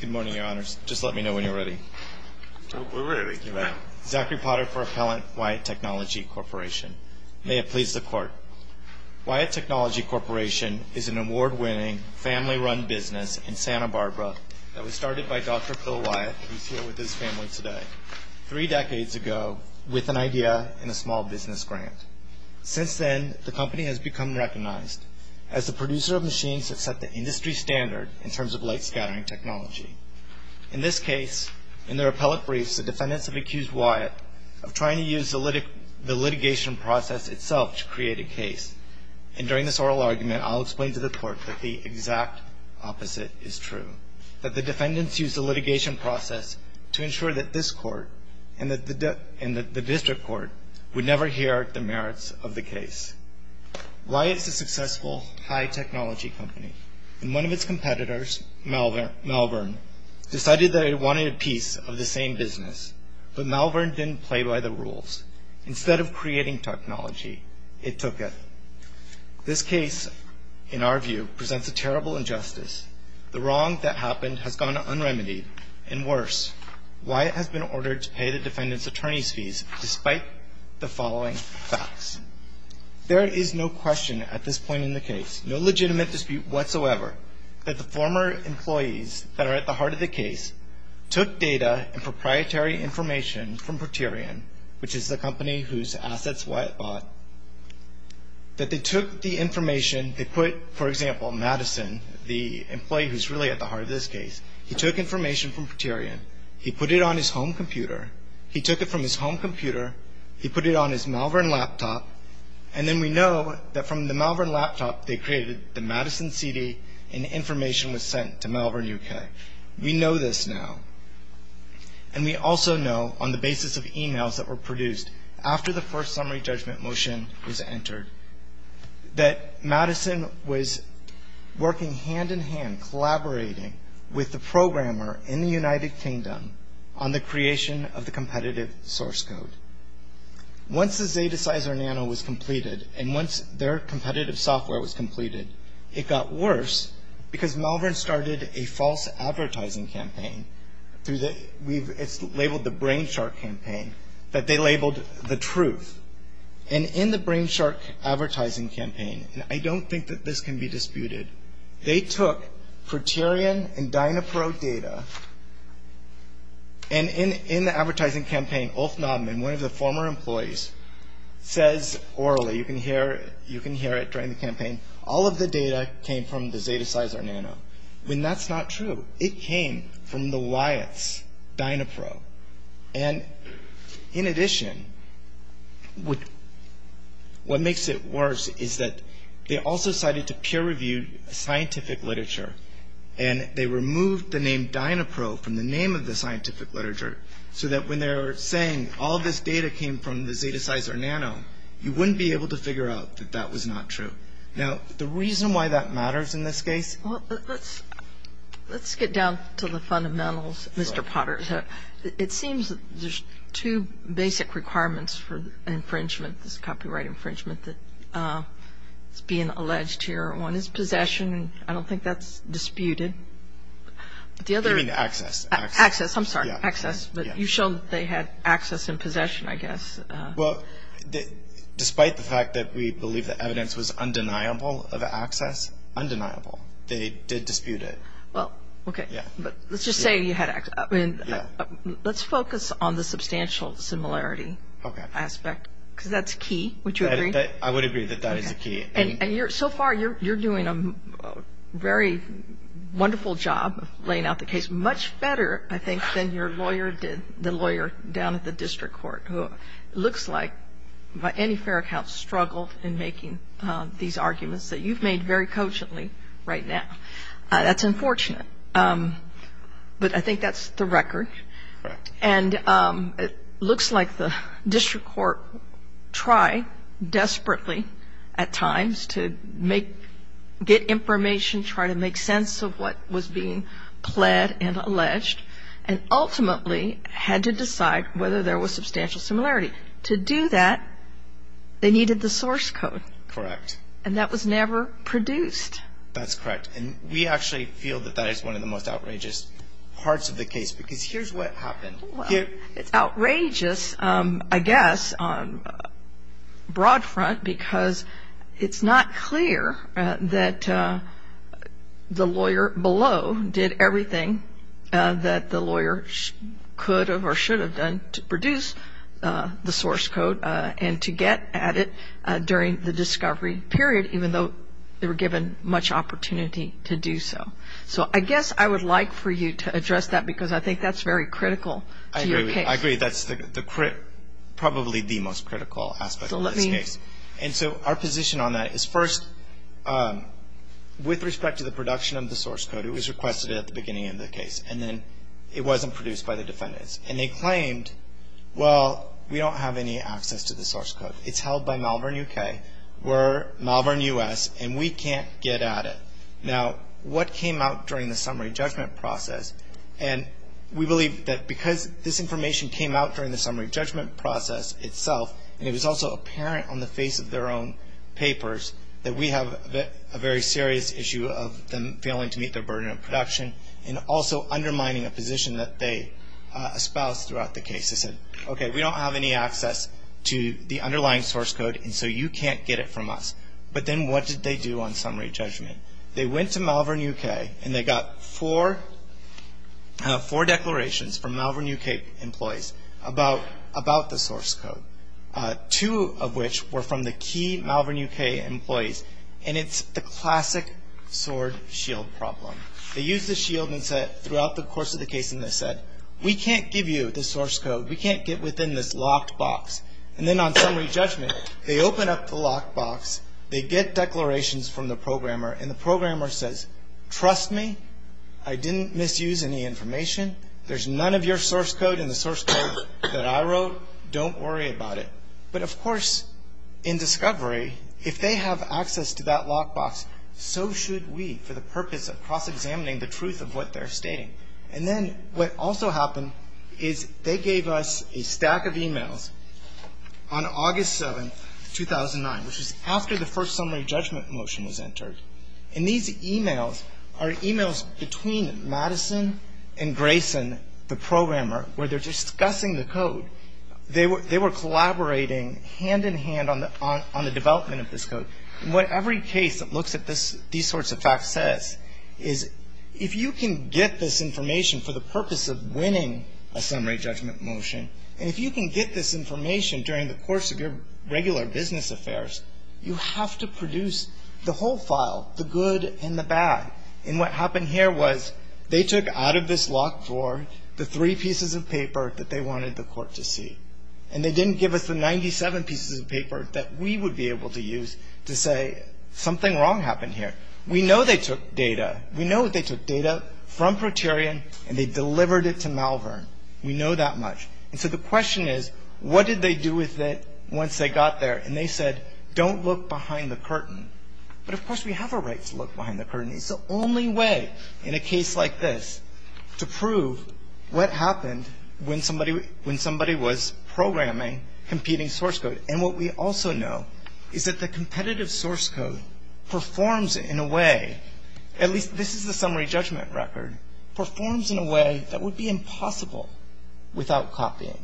Good morning, Your Honors. Just let me know when you're ready. We're ready. Zachary Potter for Appellant, Wyatt Technology Corporation. May it please the Court. Wyatt Technology Corporation is an award-winning, family-run business in Santa Barbara that was started by Dr. Phil Wyatt, who is here with his family today, three decades ago with an idea and a small business grant. standard in terms of light scattering technology. In this case, in their appellate briefs, the defendants have accused Wyatt of trying to use the litigation process itself to create a case. And during this oral argument, I'll explain to the Court that the exact opposite is true, that the defendants used the litigation process to ensure that this Court and the district court would never hear the merits of the case. Wyatt is a successful, high-technology company, and one of its competitors, Malvern, decided that it wanted a piece of the same business. But Malvern didn't play by the rules. Instead of creating technology, it took it. This case, in our view, presents a terrible injustice. The wrong that happened has gone unremedied, and worse, Wyatt has been ordered to pay the defendants' attorney's fees despite the following facts. There is no question at this point in the case, no legitimate dispute whatsoever, that the former employees that are at the heart of the case took data and proprietary information from Proterion, which is the company whose assets Wyatt bought, that they took the information, they put, for example, Madison, the employee who's really at the heart of this case, he took information from Proterion, he put it on his home computer, he took it from his home computer, he put it on his Malvern laptop, and then we know that from the Malvern laptop they created the Madison CD, and the information was sent to Malvern UK. We know this now. And we also know, on the basis of emails that were produced after the first summary judgment motion was entered, that Madison was working hand-in-hand, collaborating with the programmer in the United Kingdom on the creation of the competitive source code. Once the ZetaCyzor Nano was completed, and once their competitive software was completed, it got worse because Malvern started a false advertising campaign, it's labeled the Brain Shark campaign, that they labeled the truth. And in the Brain Shark advertising campaign, and I don't think that this can be disputed, they took Proterion and Dynapro data, and in the advertising campaign, Ulf Knobman, one of the former employees, says orally, you can hear it during the campaign, all of the data came from the ZetaCyzor Nano. And that's not true. It came from the Wyatt's Dynapro. And in addition, what makes it worse is that they also cited to peer-reviewed scientific literature, and they removed the name Dynapro from the name of the scientific literature, so that when they're saying all this data came from the ZetaCyzor Nano, you wouldn't be able to figure out that that was not true. Now, the reason why that matters in this case? Let's get down to the fundamentals, Mr. Potter. It seems there's two basic requirements for infringement, this copyright infringement, that's being alleged here. One is possession, and I don't think that's disputed. You mean access. Access. I'm sorry, access. But you showed that they had access and possession, I guess. Well, despite the fact that we believe the evidence was undeniable of access, undeniable. They did dispute it. Well, okay. Yeah. But let's just say you had access. Yeah. Let's focus on the substantial similarity aspect, because that's key. Would you agree? I would agree that that is the key. And so far, you're doing a very wonderful job of laying out the case, much better, I think, than your lawyer did, the lawyer down at the district court, who it looks like, by any fair account, struggled in making these arguments that you've made very cogently right now. That's unfortunate. But I think that's the record. And it looks like the district court tried desperately at times to get information, try to make sense of what was being pled and alleged, and ultimately had to decide whether there was substantial similarity. To do that, they needed the source code. Correct. And that was never produced. That's correct. And we actually feel that that is one of the most outrageous parts of the case, because here's what happened. Well, it's outrageous, I guess, on a broad front, because it's not clear that the lawyer below did everything that the lawyer could or should have done to produce the source code and to get at it during the discovery period, even though they were given much opportunity to do so. So I guess I would like for you to address that, because I think that's very critical to your case. I agree. That's probably the most critical aspect of this case. And so our position on that is, first, with respect to the production of the source code, it was requested at the beginning of the case, and then it wasn't produced by the defendants. And they claimed, well, we don't have any access to the source code. It's held by Malvern, U.K., we're Malvern, U.S., and we can't get at it. Now, what came out during the summary judgment process? And we believe that because this information came out during the summary judgment process itself, and it was also apparent on the face of their own papers, that we have a very serious issue of them failing to meet their burden of production and also undermining a position that they espoused throughout the case. They said, okay, we don't have any access to the underlying source code, and so you can't get it from us. But then what did they do on summary judgment? They went to Malvern, U.K., and they got four declarations from Malvern, U.K., employees about the source code, two of which were from the key Malvern, U.K., employees, and it's the classic sword-shield problem. They used the shield and said throughout the course of the case, and they said, we can't give you the source code, we can't get within this locked box. And then on summary judgment, they open up the locked box, they get declarations from the programmer, and the programmer says, trust me, I didn't misuse any information. There's none of your source code in the source code that I wrote. Don't worry about it. But, of course, in discovery, if they have access to that locked box, so should we for the purpose of cross-examining the truth of what they're stating. And then what also happened is they gave us a stack of e-mails on August 7, 2009, which is after the first summary judgment motion was entered. And these e-mails are e-mails between Madison and Grayson, the programmer, where they're discussing the code. They were collaborating hand-in-hand on the development of this code. And what every case that looks at these sorts of facts says is, if you can get this information for the purpose of winning a summary judgment motion, and if you can get this information during the course of your regular business affairs, you have to produce the whole file, the good and the bad. And what happened here was they took out of this locked drawer the three pieces of paper that they wanted the court to see. And they didn't give us the 97 pieces of paper that we would be able to use to say, something wrong happened here. We know they took data. We know they took data from Proterion, and they delivered it to Malvern. We know that much. And so the question is, what did they do with it once they got there? And they said, don't look behind the curtain. But, of course, we have a right to look behind the curtain. It's the only way in a case like this to prove what happened when somebody was programming competing source code. And what we also know is that the competitive source code performs in a way, at least this is the summary judgment record, performs in a way that would be impossible without copying.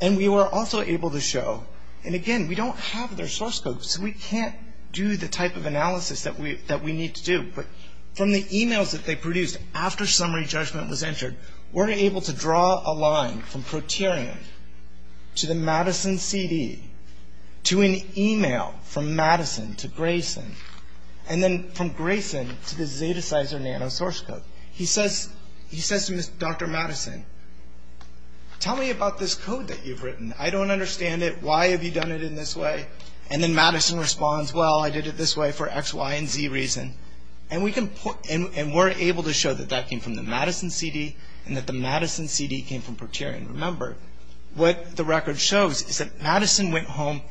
And we were also able to show, and again, we don't have their source code, so we can't do the type of analysis that we need to do. But from the e-mails that they produced after summary judgment was entered, we're able to draw a line from Proterion to the Madison CD, to an e-mail from Madison to Grayson, and then from Grayson to the Zetacizer nanosource code. He says to Dr. Madison, tell me about this code that you've written. I don't understand it. Why have you done it in this way? And then Madison responds, well, I did it this way for X, Y, and Z reason. And we're able to show that that came from the Madison CD and that the Madison CD came from Proterion. Remember, what the record shows is that Madison went home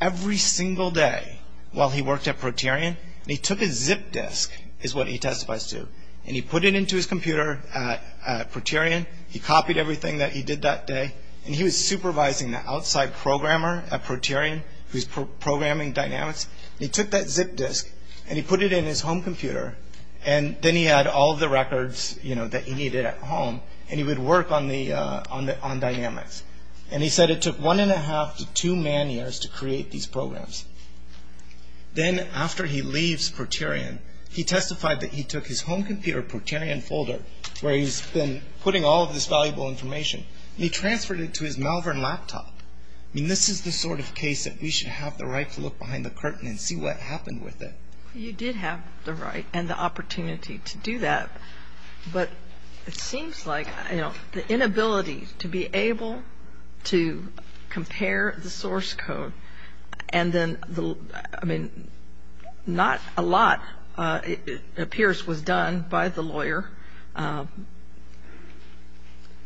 every single day while he worked at Proterion, and he took his zip disk, is what he testifies to, and he put it into his computer at Proterion. He copied everything that he did that day, and he was supervising the outside programmer at Proterion who was programming dynamics. He took that zip disk, and he put it in his home computer, and then he had all of the records that he needed at home, and he would work on dynamics. And he said it took one and a half to two man years to create these programs. Then after he leaves Proterion, he testified that he took his home computer Proterion folder where he's been putting all of this valuable information, and he transferred it to his Malvern laptop. I mean, this is the sort of case that we should have the right to look behind the curtain and see what happened with it. You did have the right and the opportunity to do that, but it seems like, you know, the inability to be able to compare the source code and then, I mean, not a lot, it appears, was done by the lawyer,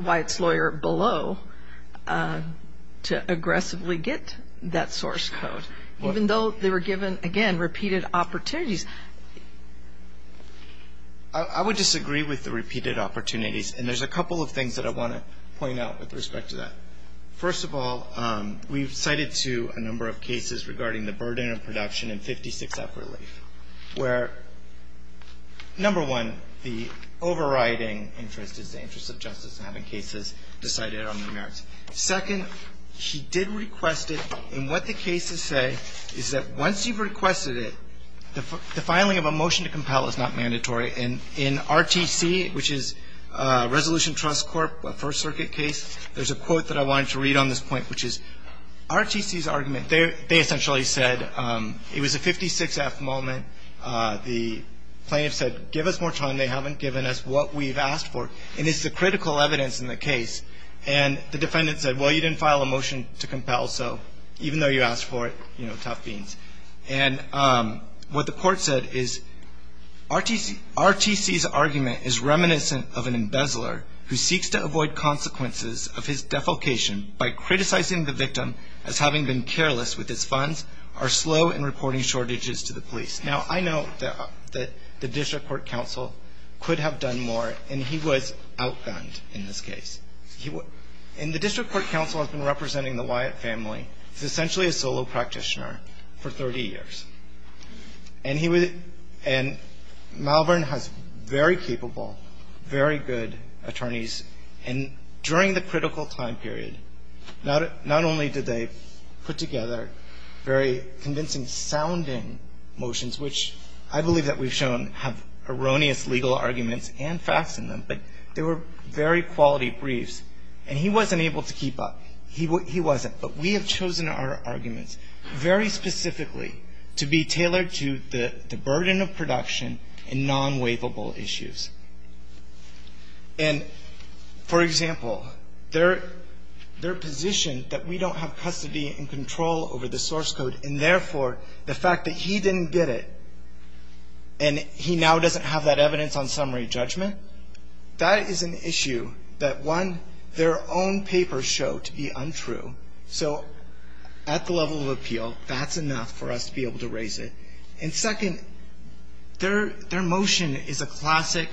Wyatt's lawyer below, to aggressively get that source code, even though they were given, again, repeated opportunities. I would disagree with the repeated opportunities, and there's a couple of things that I want to point out with respect to that. First of all, we've cited to a number of cases regarding the burden of production and 56F relief, where, number one, the overriding interest is the interest of justice in having cases decided on the merits. Second, he did request it, and what the cases say is that once you've requested it, the filing of a motion to compel is not mandatory. And in RTC, which is Resolution Trust Corp., a First Circuit case, there's a quote that I wanted to read on this point, which is RTC's argument. They essentially said it was a 56F moment. The plaintiff said, give us more time. They haven't given us what we've asked for, and it's the critical evidence in the case. And the defendant said, well, you didn't file a motion to compel, so even though you asked for it, you know, tough beans. And what the court said is RTC's argument is reminiscent of an embezzler who seeks to avoid consequences of his defalcation by criticizing the victim as having been careless with his funds or slow in reporting shortages to the police. Now, I know that the district court counsel could have done more, and he was outgunned in this case. And the district court counsel has been representing the Wyatt family. He's essentially a solo practitioner for 30 years. And he would – and Malvern has very capable, very good attorneys. And during the critical time period, not only did they put together very convincing sounding motions, which I believe that we've shown have erroneous legal arguments and facts in them, but they were very quality briefs. And he wasn't able to keep up. He wasn't. But we have chosen our arguments very specifically to be tailored to the burden of production and non-waivable issues. And, for example, their position that we don't have custody and control over the source code and, therefore, the fact that he didn't get it and he now doesn't have that evidence on summary judgment, that is an issue that, one, their own papers show to be untrue. So at the level of appeal, that's enough for us to be able to raise it. And, second, their motion is a classic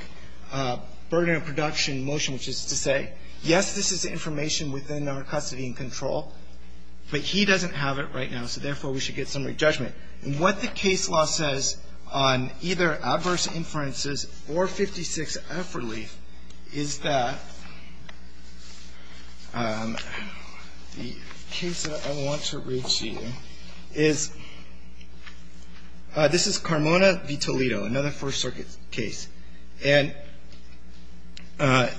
burden of production motion, which is to say, yes, this is information within our custody and control, but he doesn't have it right now, so, therefore, we should get summary judgment. And what the case law says on either adverse inferences or 56 F relief is that the case that I want to read to you is, this is Carmona v. Toledo, another First Circuit case. And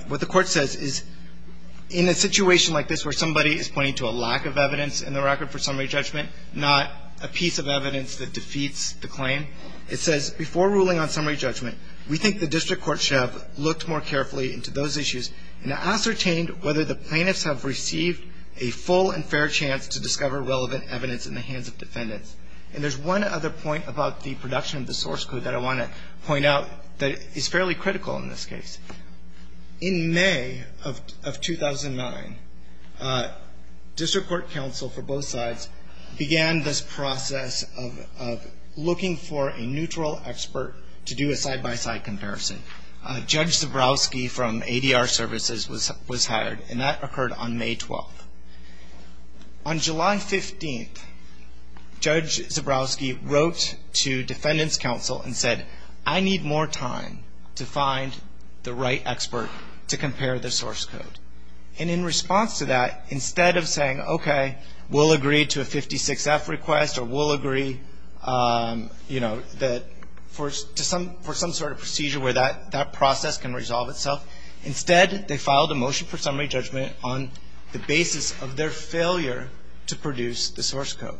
what the Court says is, in a situation like this where somebody is pointing to a lack of evidence in the record for summary judgment, not a piece of evidence that defeats the claim, it says, before ruling on summary judgment, we think the district court should have looked more carefully into those issues and ascertained whether the plaintiffs have received a full and fair chance to discover relevant evidence in the hands of defendants. And there's one other point about the production of the source code that I want to point out that is fairly critical in this case. In May of 2009, district court counsel for both sides began this process of looking for a neutral expert to do a side-by-side comparison. Judge Zebrowski from ADR Services was hired, and that occurred on May 12th. On July 15th, Judge Zebrowski wrote to defendants' counsel and said, I need more time to find the right expert to compare the source code. And in response to that, instead of saying, okay, we'll agree to a 56-F request or we'll agree for some sort of procedure where that process can resolve itself, instead they filed a motion for summary judgment on the basis of their failure to produce the source code.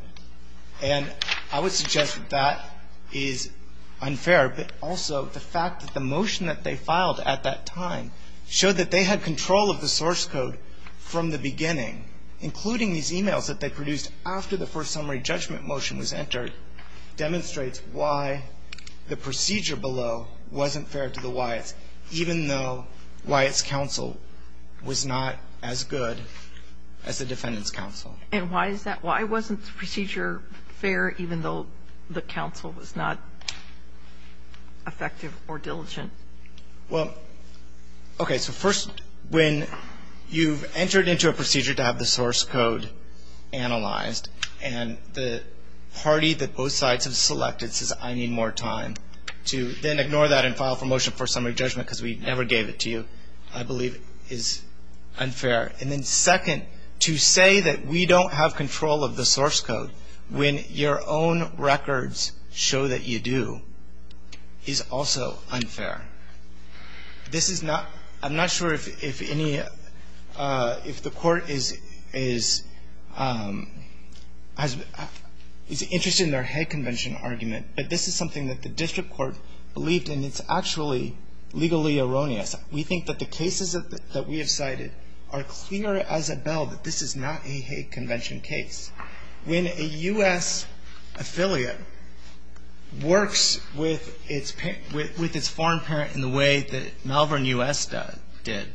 And I would suggest that that is unfair, but also the fact that the motion that they filed at that time showed that they had control of the source code from the beginning, including these e-mails that they produced after the first summary judgment motion was entered, demonstrates why the procedure below wasn't fair to the Wyatts, even though Wyatts' counsel was not as good as the defendants' counsel. And why is that? Why wasn't the procedure fair even though the counsel was not effective or diligent? Well, okay. So first, when you've entered into a procedure to have the source code analyzed and the party that both sides have selected says, I need more time, to then ignore that and file for motion for summary judgment because we never gave it to you, I believe is unfair. And then second, to say that we don't have control of the source code when your own records show that you do is also unfair. This is not ‑‑ I'm not sure if any ‑‑ if the court is interested in their head convention argument, but this is something that the district court believed, and it's actually legally erroneous. We think that the cases that we have cited are clear as a bell that this is not a head convention case. When a U.S. affiliate works with its foreign parent in the way that Malvern U.S. did,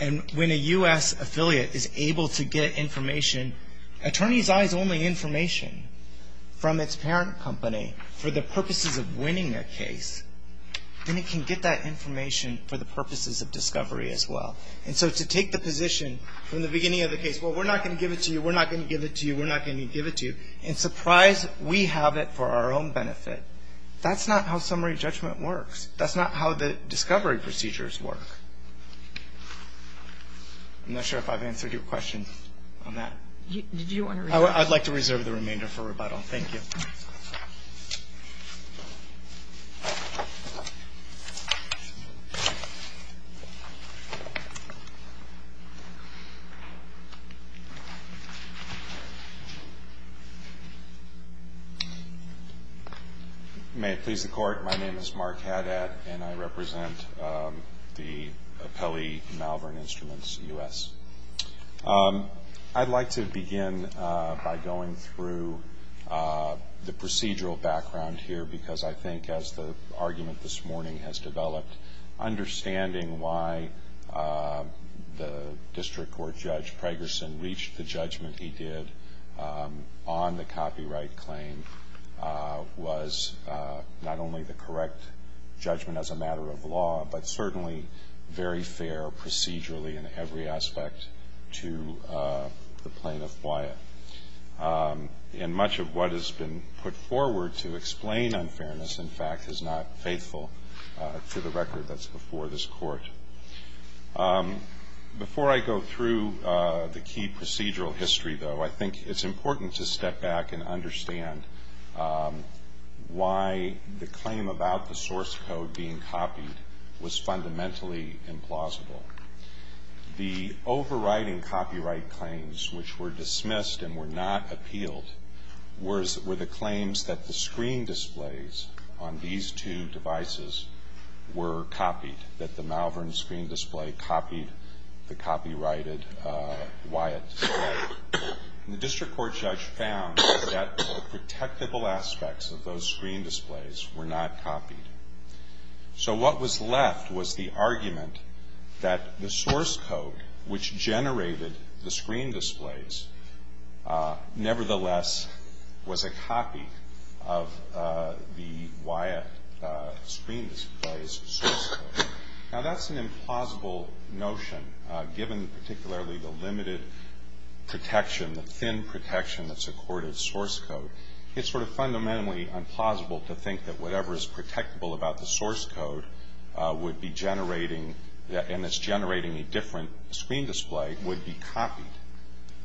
and when a U.S. affiliate is able to get information, attorney's eyes only information from its parent company for the purposes of winning their case, then it can get that information for the purposes of discovery as well. And so to take the position from the beginning of the case, well, we're not going to give it to you, we're not going to give it to you, we're not going to give it to you, and surprise, we have it for our own benefit, that's not how summary judgment works. That's not how the discovery procedures work. I'm not sure if I've answered your question on that. I'd like to reserve the remainder for rebuttal. Thank you. May it please the Court, my name is Mark Hadad, and I represent the appellee Malvern Instruments U.S. I'd like to begin by going through the procedural background here, because I think as the argument this morning has developed, understanding why the district court judge Pragerson reached the judgment he did on the copyright claim was not only the correct judgment as a matter of law, but certainly very fair procedurally in every aspect to the plaintiff, Wyatt. And much of what has been put forward to explain unfairness, in fact, is not faithful to the record that's before this Court. Before I go through the key procedural history, though, I think it's important to step back and understand why the claim about the source code being copied was fundamentally implausible. The overriding copyright claims, which were dismissed and were not appealed, were the claims that the screen displays on these two devices were copied, that the Malvern screen display copied the copyrighted Wyatt display. And the district court judge found that the protectable aspects of those screen displays were not copied. So what was left was the argument that the source code which generated the screen displays, nevertheless, was a copy of the Wyatt screen display's source code. Now, that's an implausible notion, given particularly the limited protection, the thin protection that's accorded source code. It's sort of fundamentally implausible to think that whatever is protectable about the source code would be generating, and is generating a different screen display, would be copied.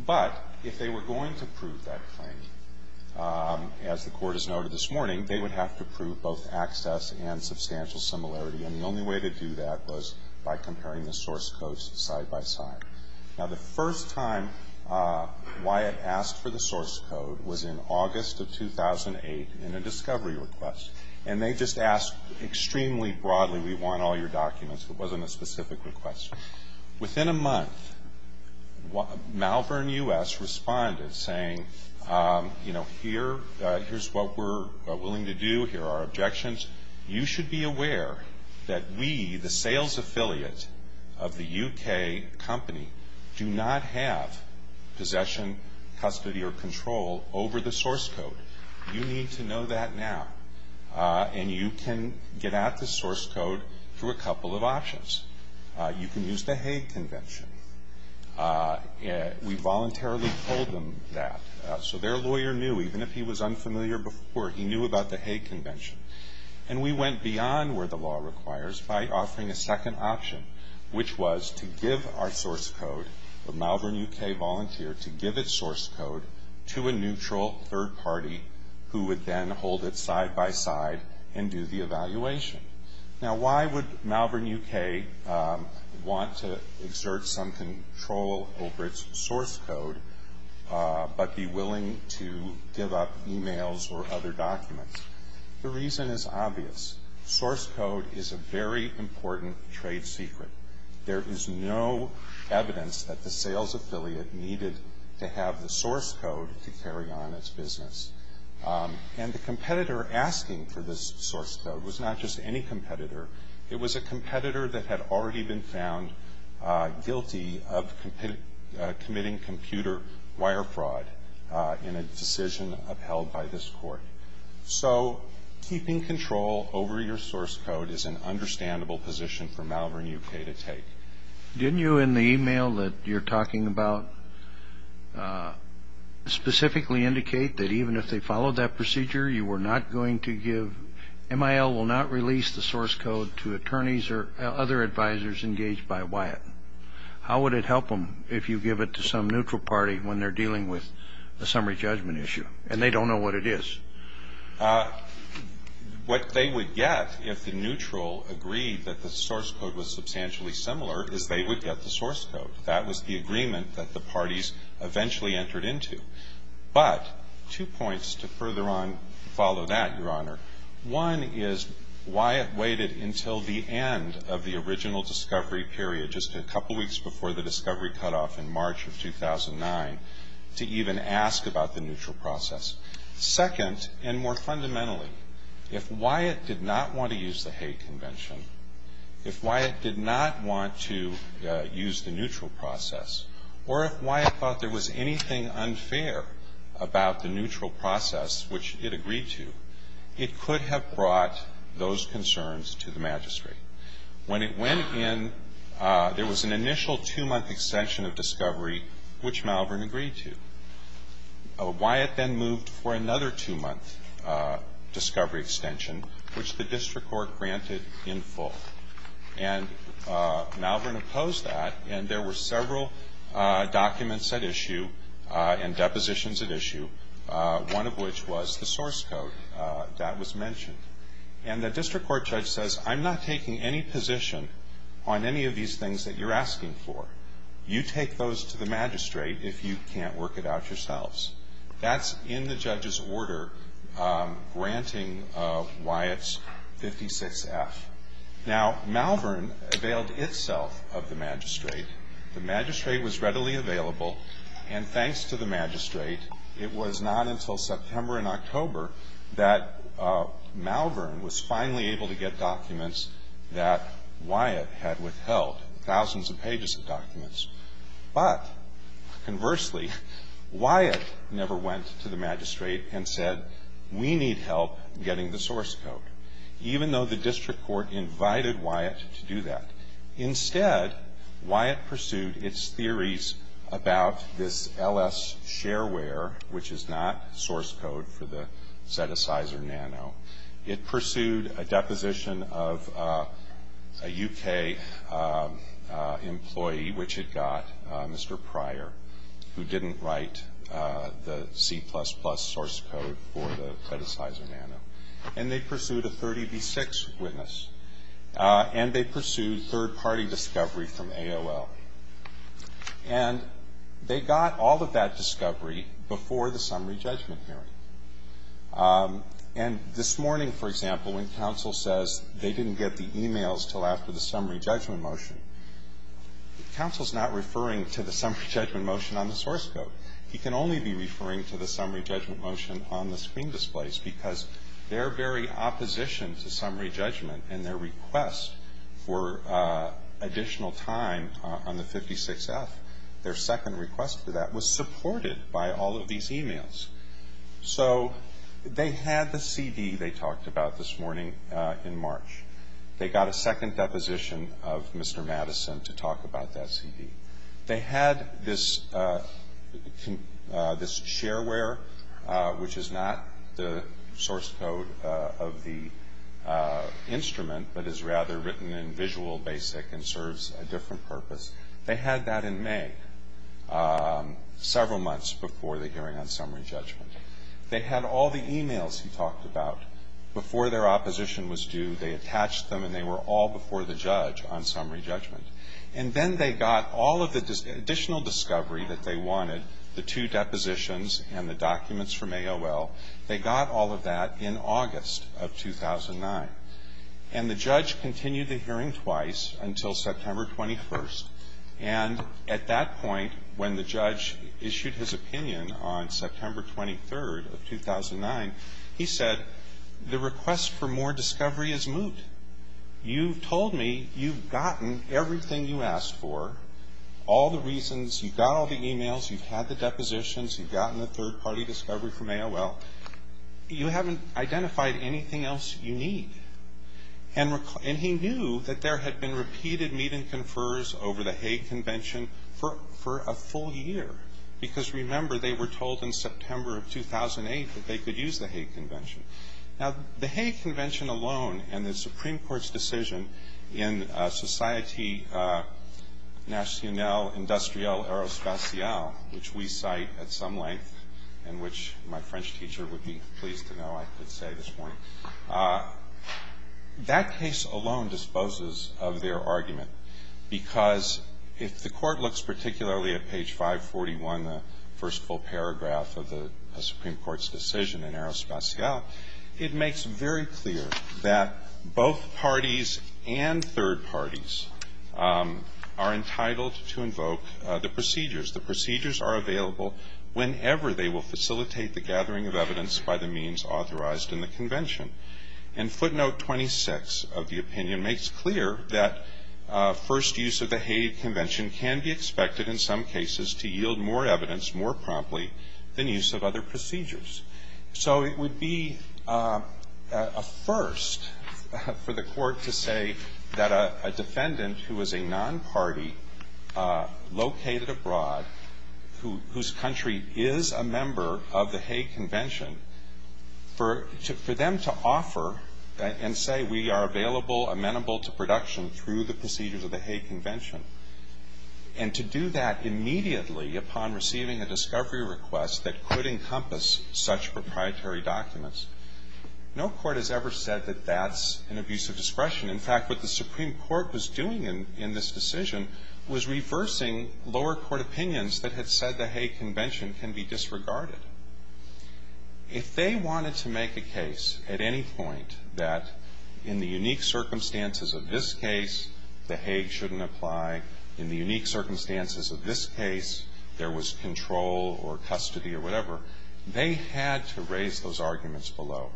But if they were going to prove that claim, as the Court has noted this morning, they would have to prove both access and substantial similarity. And the only way to do that was by comparing the source codes side by side. Now, the first time Wyatt asked for the source code was in August of 2008 in a discovery request. And they just asked extremely broadly, we want all your documents. It wasn't a specific request. Within a month, Malvern U.S. responded saying, you know, here's what we're willing to do. Here are our objections. You should be aware that we, the sales affiliate of the U.K. company, do not have possession, custody, or control over the source code. You need to know that now. And you can get at the source code through a couple of options. You can use the Hague Convention. We voluntarily told them that. So their lawyer knew, even if he was unfamiliar before, he knew about the Hague Convention. And we went beyond where the law requires by offering a second option, which was to give our source code, the Malvern U.K. volunteer to give its source code, to a neutral third party who would then hold it side by side and do the evaluation. Now, why would Malvern U.K. want to exert some control over its source code but be willing to give up e-mails or other documents? The reason is obvious. Source code is a very important trade secret. There is no evidence that the sales affiliate needed to have the source code to carry on its business. And the competitor asking for this source code was not just any competitor. It was a competitor that had already been found guilty of committing computer wire fraud in a decision upheld by this court. So keeping control over your source code is an understandable position for Malvern U.K. to take. Didn't you, in the e-mail that you're talking about, specifically indicate that even if they followed that procedure, you were not going to give, MIL will not release the source code to attorneys or other advisors engaged by Wyatt? How would it help them if you give it to some neutral party when they're dealing with a summary judgment issue and they don't know what it is? What they would get if the neutral agreed that the source code was substantially similar is they would get the source code. That was the agreement that the parties eventually entered into. But two points to further on follow that, Your Honor. One is Wyatt waited until the end of the original discovery period, just a couple weeks before the discovery cutoff in March of 2009, to even ask about the neutral process. Second, and more fundamentally, if Wyatt did not want to use the hate convention, if Wyatt did not want to use the neutral process, or if Wyatt thought there was anything unfair about the neutral process, which it agreed to, it could have brought those concerns to the magistrate. When it went in, there was an initial two-month extension of discovery, which Malvern agreed to. Wyatt then moved for another two-month discovery extension, which the district court granted in full. And Malvern opposed that, and there were several documents at issue and depositions at issue, one of which was the source code that was mentioned. And the district court judge says, I'm not taking any position on any of these things that you're asking for. You take those to the magistrate if you can't work it out yourselves. That's in the judge's order, granting Wyatt's 56F. Now, Malvern availed itself of the magistrate. The magistrate was readily available, and thanks to the magistrate, it was not until September and October that Malvern was finally able to get documents that Wyatt had withheld, thousands of pages of documents. But conversely, Wyatt never went to the magistrate and said, we need help getting the source code, even though the district court invited Wyatt to do that. Instead, Wyatt pursued its theories about this LS shareware, which is not source code for the set-asizer nano. It pursued a deposition of a U.K. employee, which it got, Mr. Pryor, who didn't write the C++ source code for the set-asizer nano. And they pursued a 30B6 witness, and they pursued third-party discovery from AOL. And they got all of that discovery before the summary judgment hearing. And this morning, for example, when counsel says they didn't get the e-mails until after the summary judgment motion, counsel's not referring to the summary judgment motion on the source code. He can only be referring to the summary judgment motion on the screen displays because their very opposition to summary judgment and their request for additional time on the 56F, their second request for that, was supported by all of these e-mails. So they had the CD they talked about this morning in March. They got a second deposition of Mr. Madison to talk about that CD. They had this shareware, which is not the source code of the instrument, but is rather written in Visual Basic and serves a different purpose. They had that in May, several months before the hearing on summary judgment. They had all the e-mails he talked about before their opposition was due. They attached them, and they were all before the judge on summary judgment. And then they got all of the additional discovery that they wanted, the two depositions and the documents from AOL, they got all of that in August of 2009. And the judge continued the hearing twice until September 21st. And at that point, when the judge issued his opinion on September 23rd of 2009, he said, the request for more discovery has moved. You've told me you've gotten everything you asked for, all the reasons. You got all the e-mails. You've had the depositions. You've gotten the third-party discovery from AOL. You haven't identified anything else you need. And he knew that there had been repeated meet-and-confers over the Hague Convention for a full year, because, remember, they were told in September of 2008 that they could use the Hague Convention. Now, the Hague Convention alone and the Supreme Court's decision in Societe Nationale Industrielle Aerospatiale, which we cite at some length and which my French teacher would be pleased to know I could say this morning, that case alone disposes of their argument, because if the court looks particularly at page 541, the first full paragraph of the Supreme Court's decision in Aerospatiale, it makes very clear that both parties and third parties are entitled to invoke the procedures. The procedures are available whenever they will facilitate the gathering of evidence by the means authorized in the convention. And footnote 26 of the opinion makes clear that first use of the Hague Convention can be expected in some cases to yield more evidence more promptly than use of other procedures. So it would be a first for the court to say that a defendant who is a non-party located abroad, whose country is a member of the Hague Convention, for them to offer and say we are available, amenable to production through the procedures of the Hague Convention, and to do that immediately upon receiving a discovery request that could encompass such proprietary documents, no court has ever said that that's an abuse of discretion. In fact, what the Supreme Court was doing in this decision was reversing lower court opinions that had said the Hague Convention can be disregarded. If they wanted to make a case at any point that in the unique circumstances of this case, the Hague shouldn't apply, in the unique circumstances of this case, there was control or custody or whatever, they had to raise those arguments below.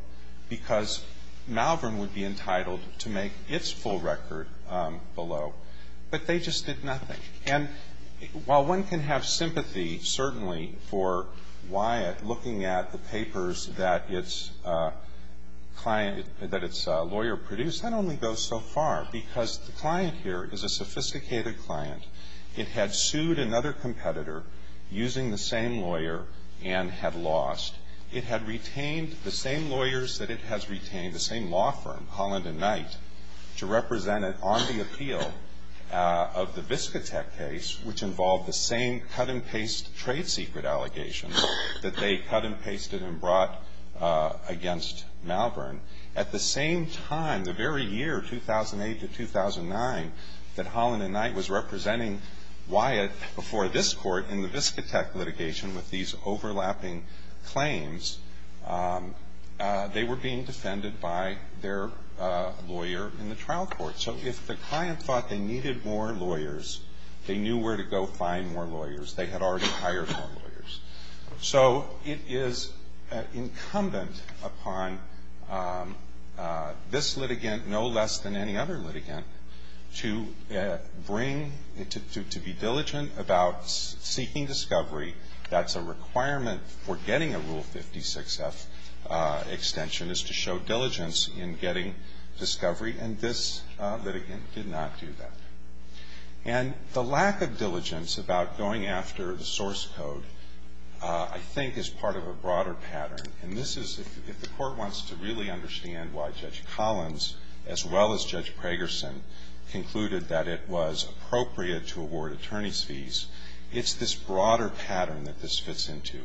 Because Malvern would be entitled to make its full record below. But they just did nothing. And while one can have sympathy, certainly, for Wyatt looking at the papers that its client that its lawyer produced, that only goes so far because the client here is a sophisticated client. It had sued another competitor using the same lawyer and had lost. It had retained the same lawyers that it has retained, the same law firm, Holland & Knight, to represent it on the appeal of the Viscotec case, which involved the same cut-and-paste trade secret allegations that they cut-and-pasted and brought against Malvern. At the same time, the very year, 2008 to 2009, that Holland & Knight was representing Wyatt before this court in the Viscotec litigation with these overlapping claims, they were being defended by their lawyer in the trial court. So if the client thought they needed more lawyers, they knew where to go find more lawyers. They had already hired more lawyers. So it is incumbent upon this litigant, no less than any other litigant, to bring, to be diligent about seeking discovery. That's a requirement for getting a Rule 56-F extension, is to show diligence in getting discovery. And this litigant did not do that. And the lack of diligence about going after the source code, I think, is part of a broader pattern. And this is, if the Court wants to really understand why Judge Collins, as well as Judge Pragerson, concluded that it was appropriate to award attorney's fees, it's this broader pattern that this fits into.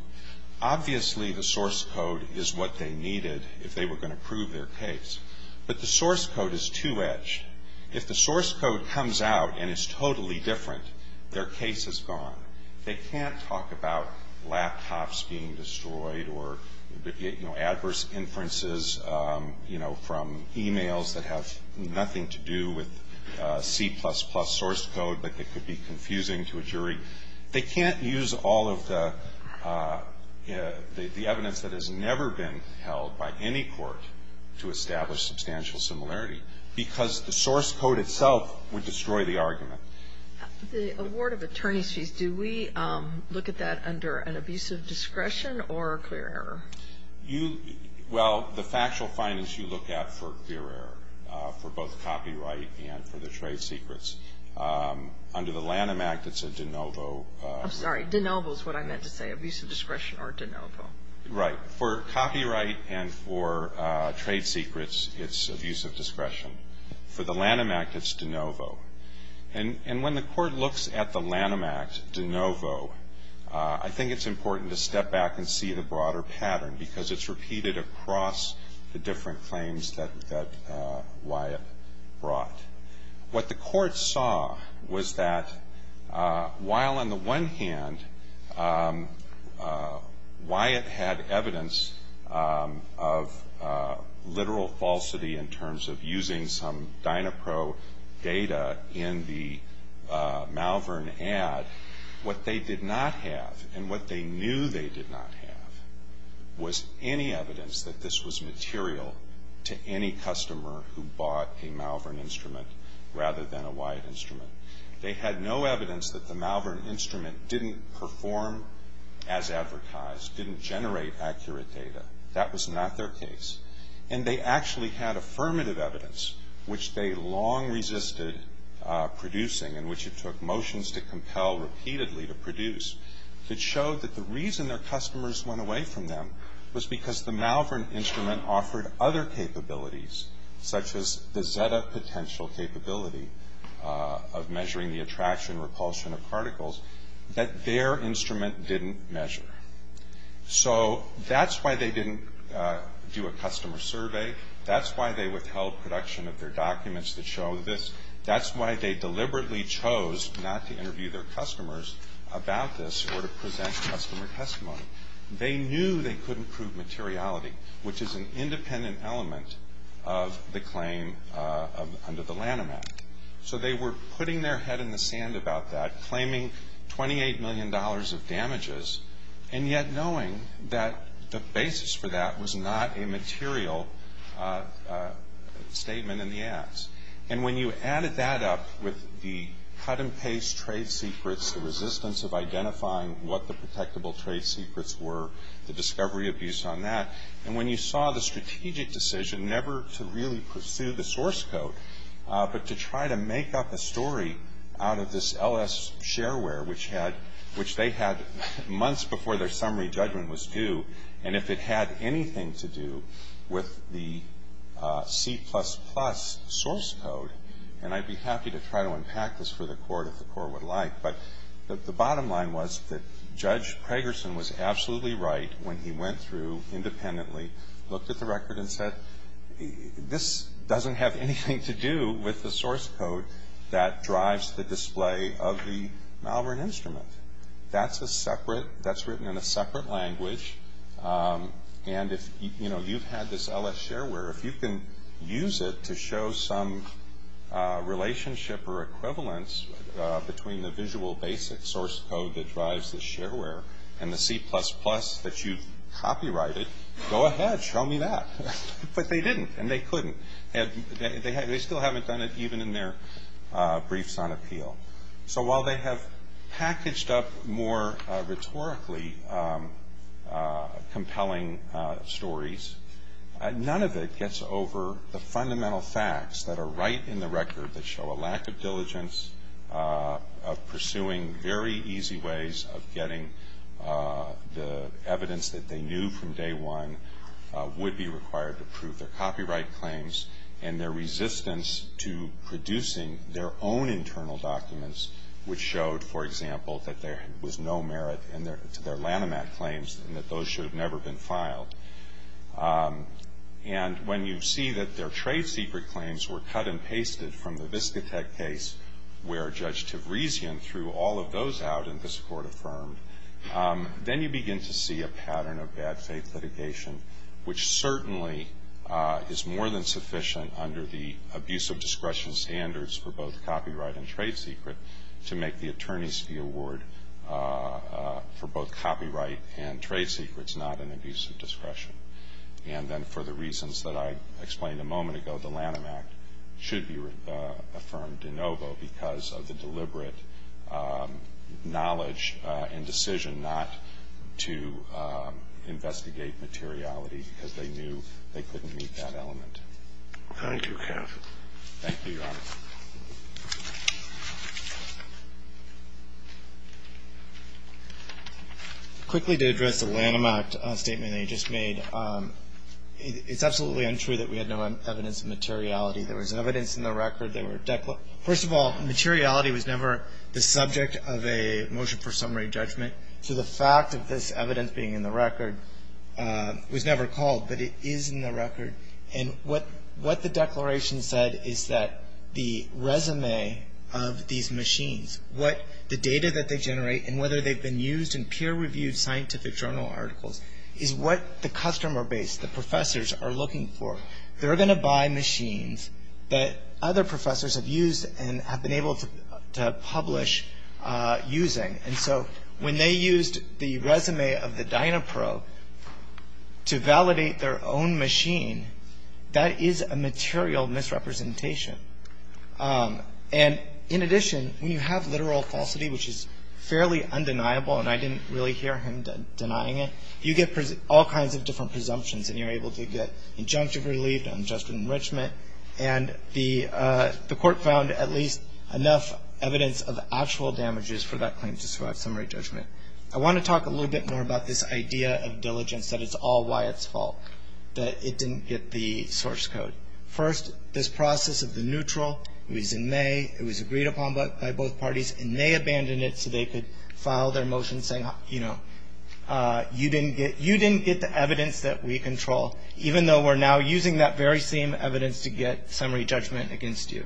Obviously, the source code is what they needed if they were going to prove their case. But the source code is two-edged. If the source code comes out and is totally different, their case is gone. They can't talk about laptops being destroyed or, you know, adverse inferences, you know, from e-mails that have nothing to do with C++ source code that could be confusing to a jury. They can't use all of the evidence that has never been held by any court to establish substantial similarity, because the source code itself would destroy the argument. The award of attorney's fees, do we look at that under an abuse of discretion or clear error? Well, the factual findings you look at for clear error, for both copyright and for the trade secrets. Under the Lanham Act, it's a de novo. I'm sorry. De novo is what I meant to say, abuse of discretion or de novo. Right. For copyright and for trade secrets, it's abuse of discretion. For the Lanham Act, it's de novo. And when the Court looks at the Lanham Act, de novo, I think it's important to step back and see the broader pattern, because it's repeated across the different claims that Wyatt brought. What the Court saw was that while on the one hand Wyatt had evidence of literal falsity in terms of using some Dynapro data in the Malvern ad, what they did not have and what they knew they did not have was any evidence that this was material to any customer who bought a Malvern instrument rather than a Wyatt instrument. They had no evidence that the Malvern instrument didn't perform as advertised, didn't generate accurate data. That was not their case. And they actually had affirmative evidence, which they long resisted producing and which it took motions to compel repeatedly to produce, that showed that the reason their customers went away from them was because the Malvern instrument offered other capabilities, such as the Zeta potential capability of measuring the attraction and repulsion of particles, that their instrument didn't measure. So that's why they didn't do a customer survey. That's why they withheld production of their documents that show this. That's why they deliberately chose not to interview their customers about this or to present customer testimony. They knew they couldn't prove materiality, which is an independent element of the claim under the Lanham Act. So they were putting their head in the sand about that, claiming $28 million of damages, and yet knowing that the basis for that was not a material statement in the ads. And when you added that up with the cut-and-paste trade secrets, the resistance of identifying what the protectable trade secrets were, the discovery abuse on that, and when you saw the strategic decision never to really pursue the source code but to try to make up a story out of this LS shareware, which they had months before their summary judgment was due, and if it had anything to do with the C++ source code, and I'd be happy to try to unpack this for the Court if the Court would like, but the bottom line was that Judge Pragerson was absolutely right when he went through independently, looked at the record, and said, this doesn't have anything to do with the source code that drives the display of the Malvern instrument. That's written in a separate language, and you've had this LS shareware. If you can use it to show some relationship or equivalence between the visual basic source code that drives the shareware and the C++ that you've copyrighted, go ahead, show me that. But they didn't, and they couldn't. They still haven't done it even in their briefs on appeal. So while they have packaged up more rhetorically compelling stories, none of it gets over the fundamental facts that are right in the record that show a lack of diligence, of pursuing very easy ways of getting the evidence that they knew from day one would be required to prove their copyright claims, and their resistance to producing their own internal documents, which showed, for example, that there was no merit to their Lanham Act claims and that those should have never been filed. And when you see that their trade secret claims were cut and pasted from the Viscotec case, where Judge Tavrisian threw all of those out and this Court affirmed, then you begin to see a pattern of bad faith litigation, which certainly is more than sufficient under the abuse of discretion standards for both copyright and trade secret to make the attorneys fee award for both copyright and trade secrets not an abuse of discretion. And then for the reasons that I explained a moment ago, the Lanham Act should be affirmed de novo because of the deliberate knowledge and decision not to investigate materiality because they knew they couldn't meet that element. Thank you, Your Honor. Quickly, to address the Lanham Act statement that you just made, it's absolutely untrue that we had no evidence of materiality. There was evidence in the record. First of all, materiality was never the subject of a motion for summary judgment. So the fact of this evidence being in the record was never called, but it is in the record. The resume of these machines, what the data that they generate, and whether they've been used in peer-reviewed scientific journal articles, is what the customer base, the professors, are looking for. They're going to buy machines that other professors have used and have been able to publish using. And so when they used the resume of the DynaPro to validate their own machine, that is a material misrepresentation. And in addition, when you have literal falsity, which is fairly undeniable, and I didn't really hear him denying it, you get all kinds of different presumptions and you're able to get injunctive relief, unjustified enrichment, and the court found at least enough evidence of actual damages for that claim to survive summary judgment. I want to talk a little bit more about this idea of diligence, that it's all Wyatt's fault, that it didn't get the source code. First, this process of the neutral, it was in May, it was agreed upon by both parties, and they abandoned it so they could file their motion saying, you know, you didn't get the evidence that we control, even though we're now using that very same evidence to get summary judgment against you.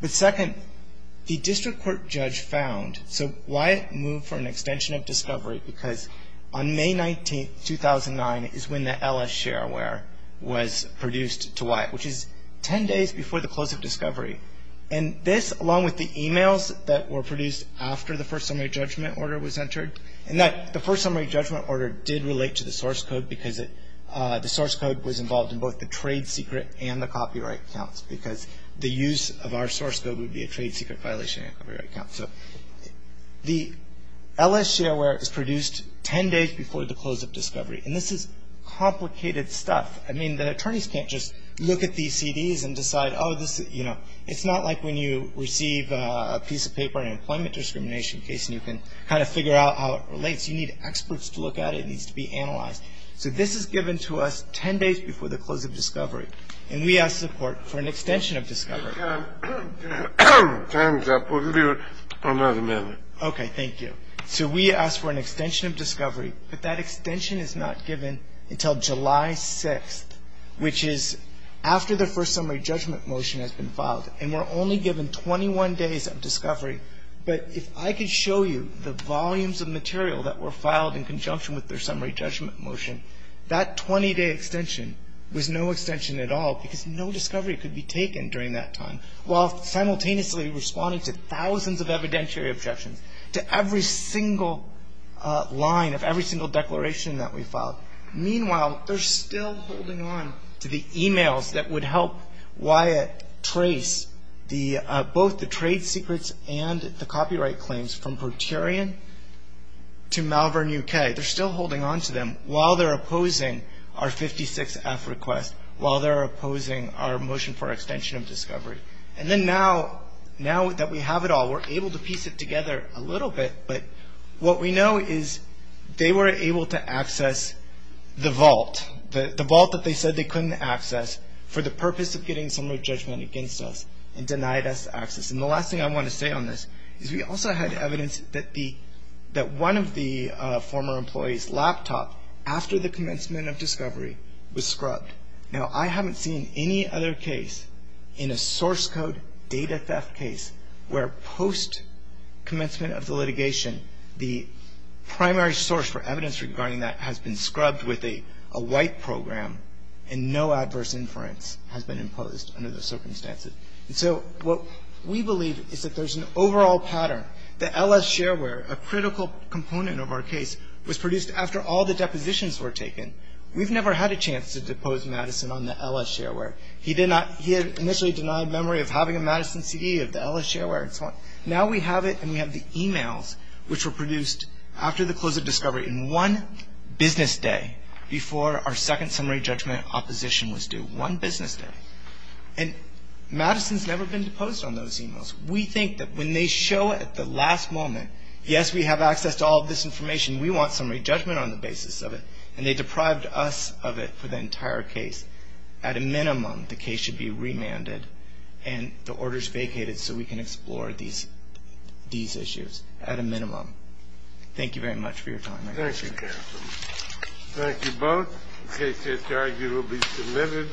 But second, the district court judge found, so Wyatt moved for an extension of discovery because on May 19, 2009, is when the LS shareware was produced to Wyatt, which is ten days before the close of discovery. And this, along with the e-mails that were produced after the first summary judgment order was entered, and the first summary judgment order did relate to the source code because the source code was involved in both the trade secret and the copyright counts because the use of our source code would be a trade secret violation and a copyright count. So the LS shareware is produced ten days before the close of discovery, and this is complicated stuff. I mean, the attorneys can't just look at these CDs and decide, oh, this, you know, it's not like when you receive a piece of paper, an employment discrimination case, and you can kind of figure out how it relates. You need experts to look at it. It needs to be analyzed. So this is given to us ten days before the close of discovery, and we asked the court for an extension of discovery. Time's up. We'll give you another minute. Okay, thank you. So we asked for an extension of discovery, but that extension is not given until July 6th, which is after the first summary judgment motion has been filed. And we're only given 21 days of discovery. But if I could show you the volumes of material that were filed in conjunction with their summary judgment motion, that 20-day extension was no extension at all because no discovery could be taken during that time, while simultaneously responding to thousands of evidentiary objections, to every single line of every single declaration that we filed. Meanwhile, they're still holding on to the e-mails that would help Wyatt trace both the trade secrets and the copyright claims from Proterian to Malvern, U.K. They're still holding on to them while they're opposing our 56-F request, while they're opposing our motion for extension of discovery. And then now that we have it all, we're able to piece it together a little bit, but what we know is they were able to access the vault, the vault that they said they couldn't access for the purpose of getting summary judgment against us and denied us access. And the last thing I want to say on this is we also had evidence that one of the former employees' laptop, after the commencement of discovery, was scrubbed. Now, I haven't seen any other case in a source code data theft case where post-commencement of the litigation, the primary source for evidence regarding that has been scrubbed with a white program and no adverse inference has been imposed under those circumstances. And so what we believe is that there's an overall pattern. The L.S. shareware, a critical component of our case, was produced after all the depositions were taken. We've never had a chance to depose Madison on the L.S. shareware. He did not he had initially denied memory of having a Madison CD of the L.S. shareware. Now we have it and we have the e-mails which were produced after the close of discovery in one business day before our second summary judgment opposition was due, one business day. And Madison's never been deposed on those e-mails. We think that when they show at the last moment, yes, we have access to all of this information. We want summary judgment on the basis of it. And they deprived us of it for the entire case. At a minimum, the case should be remanded and the orders vacated so we can explore these issues at a minimum. Thank you very much for your time. Thank you, Captain. Thank you both. The case is arguably submitted.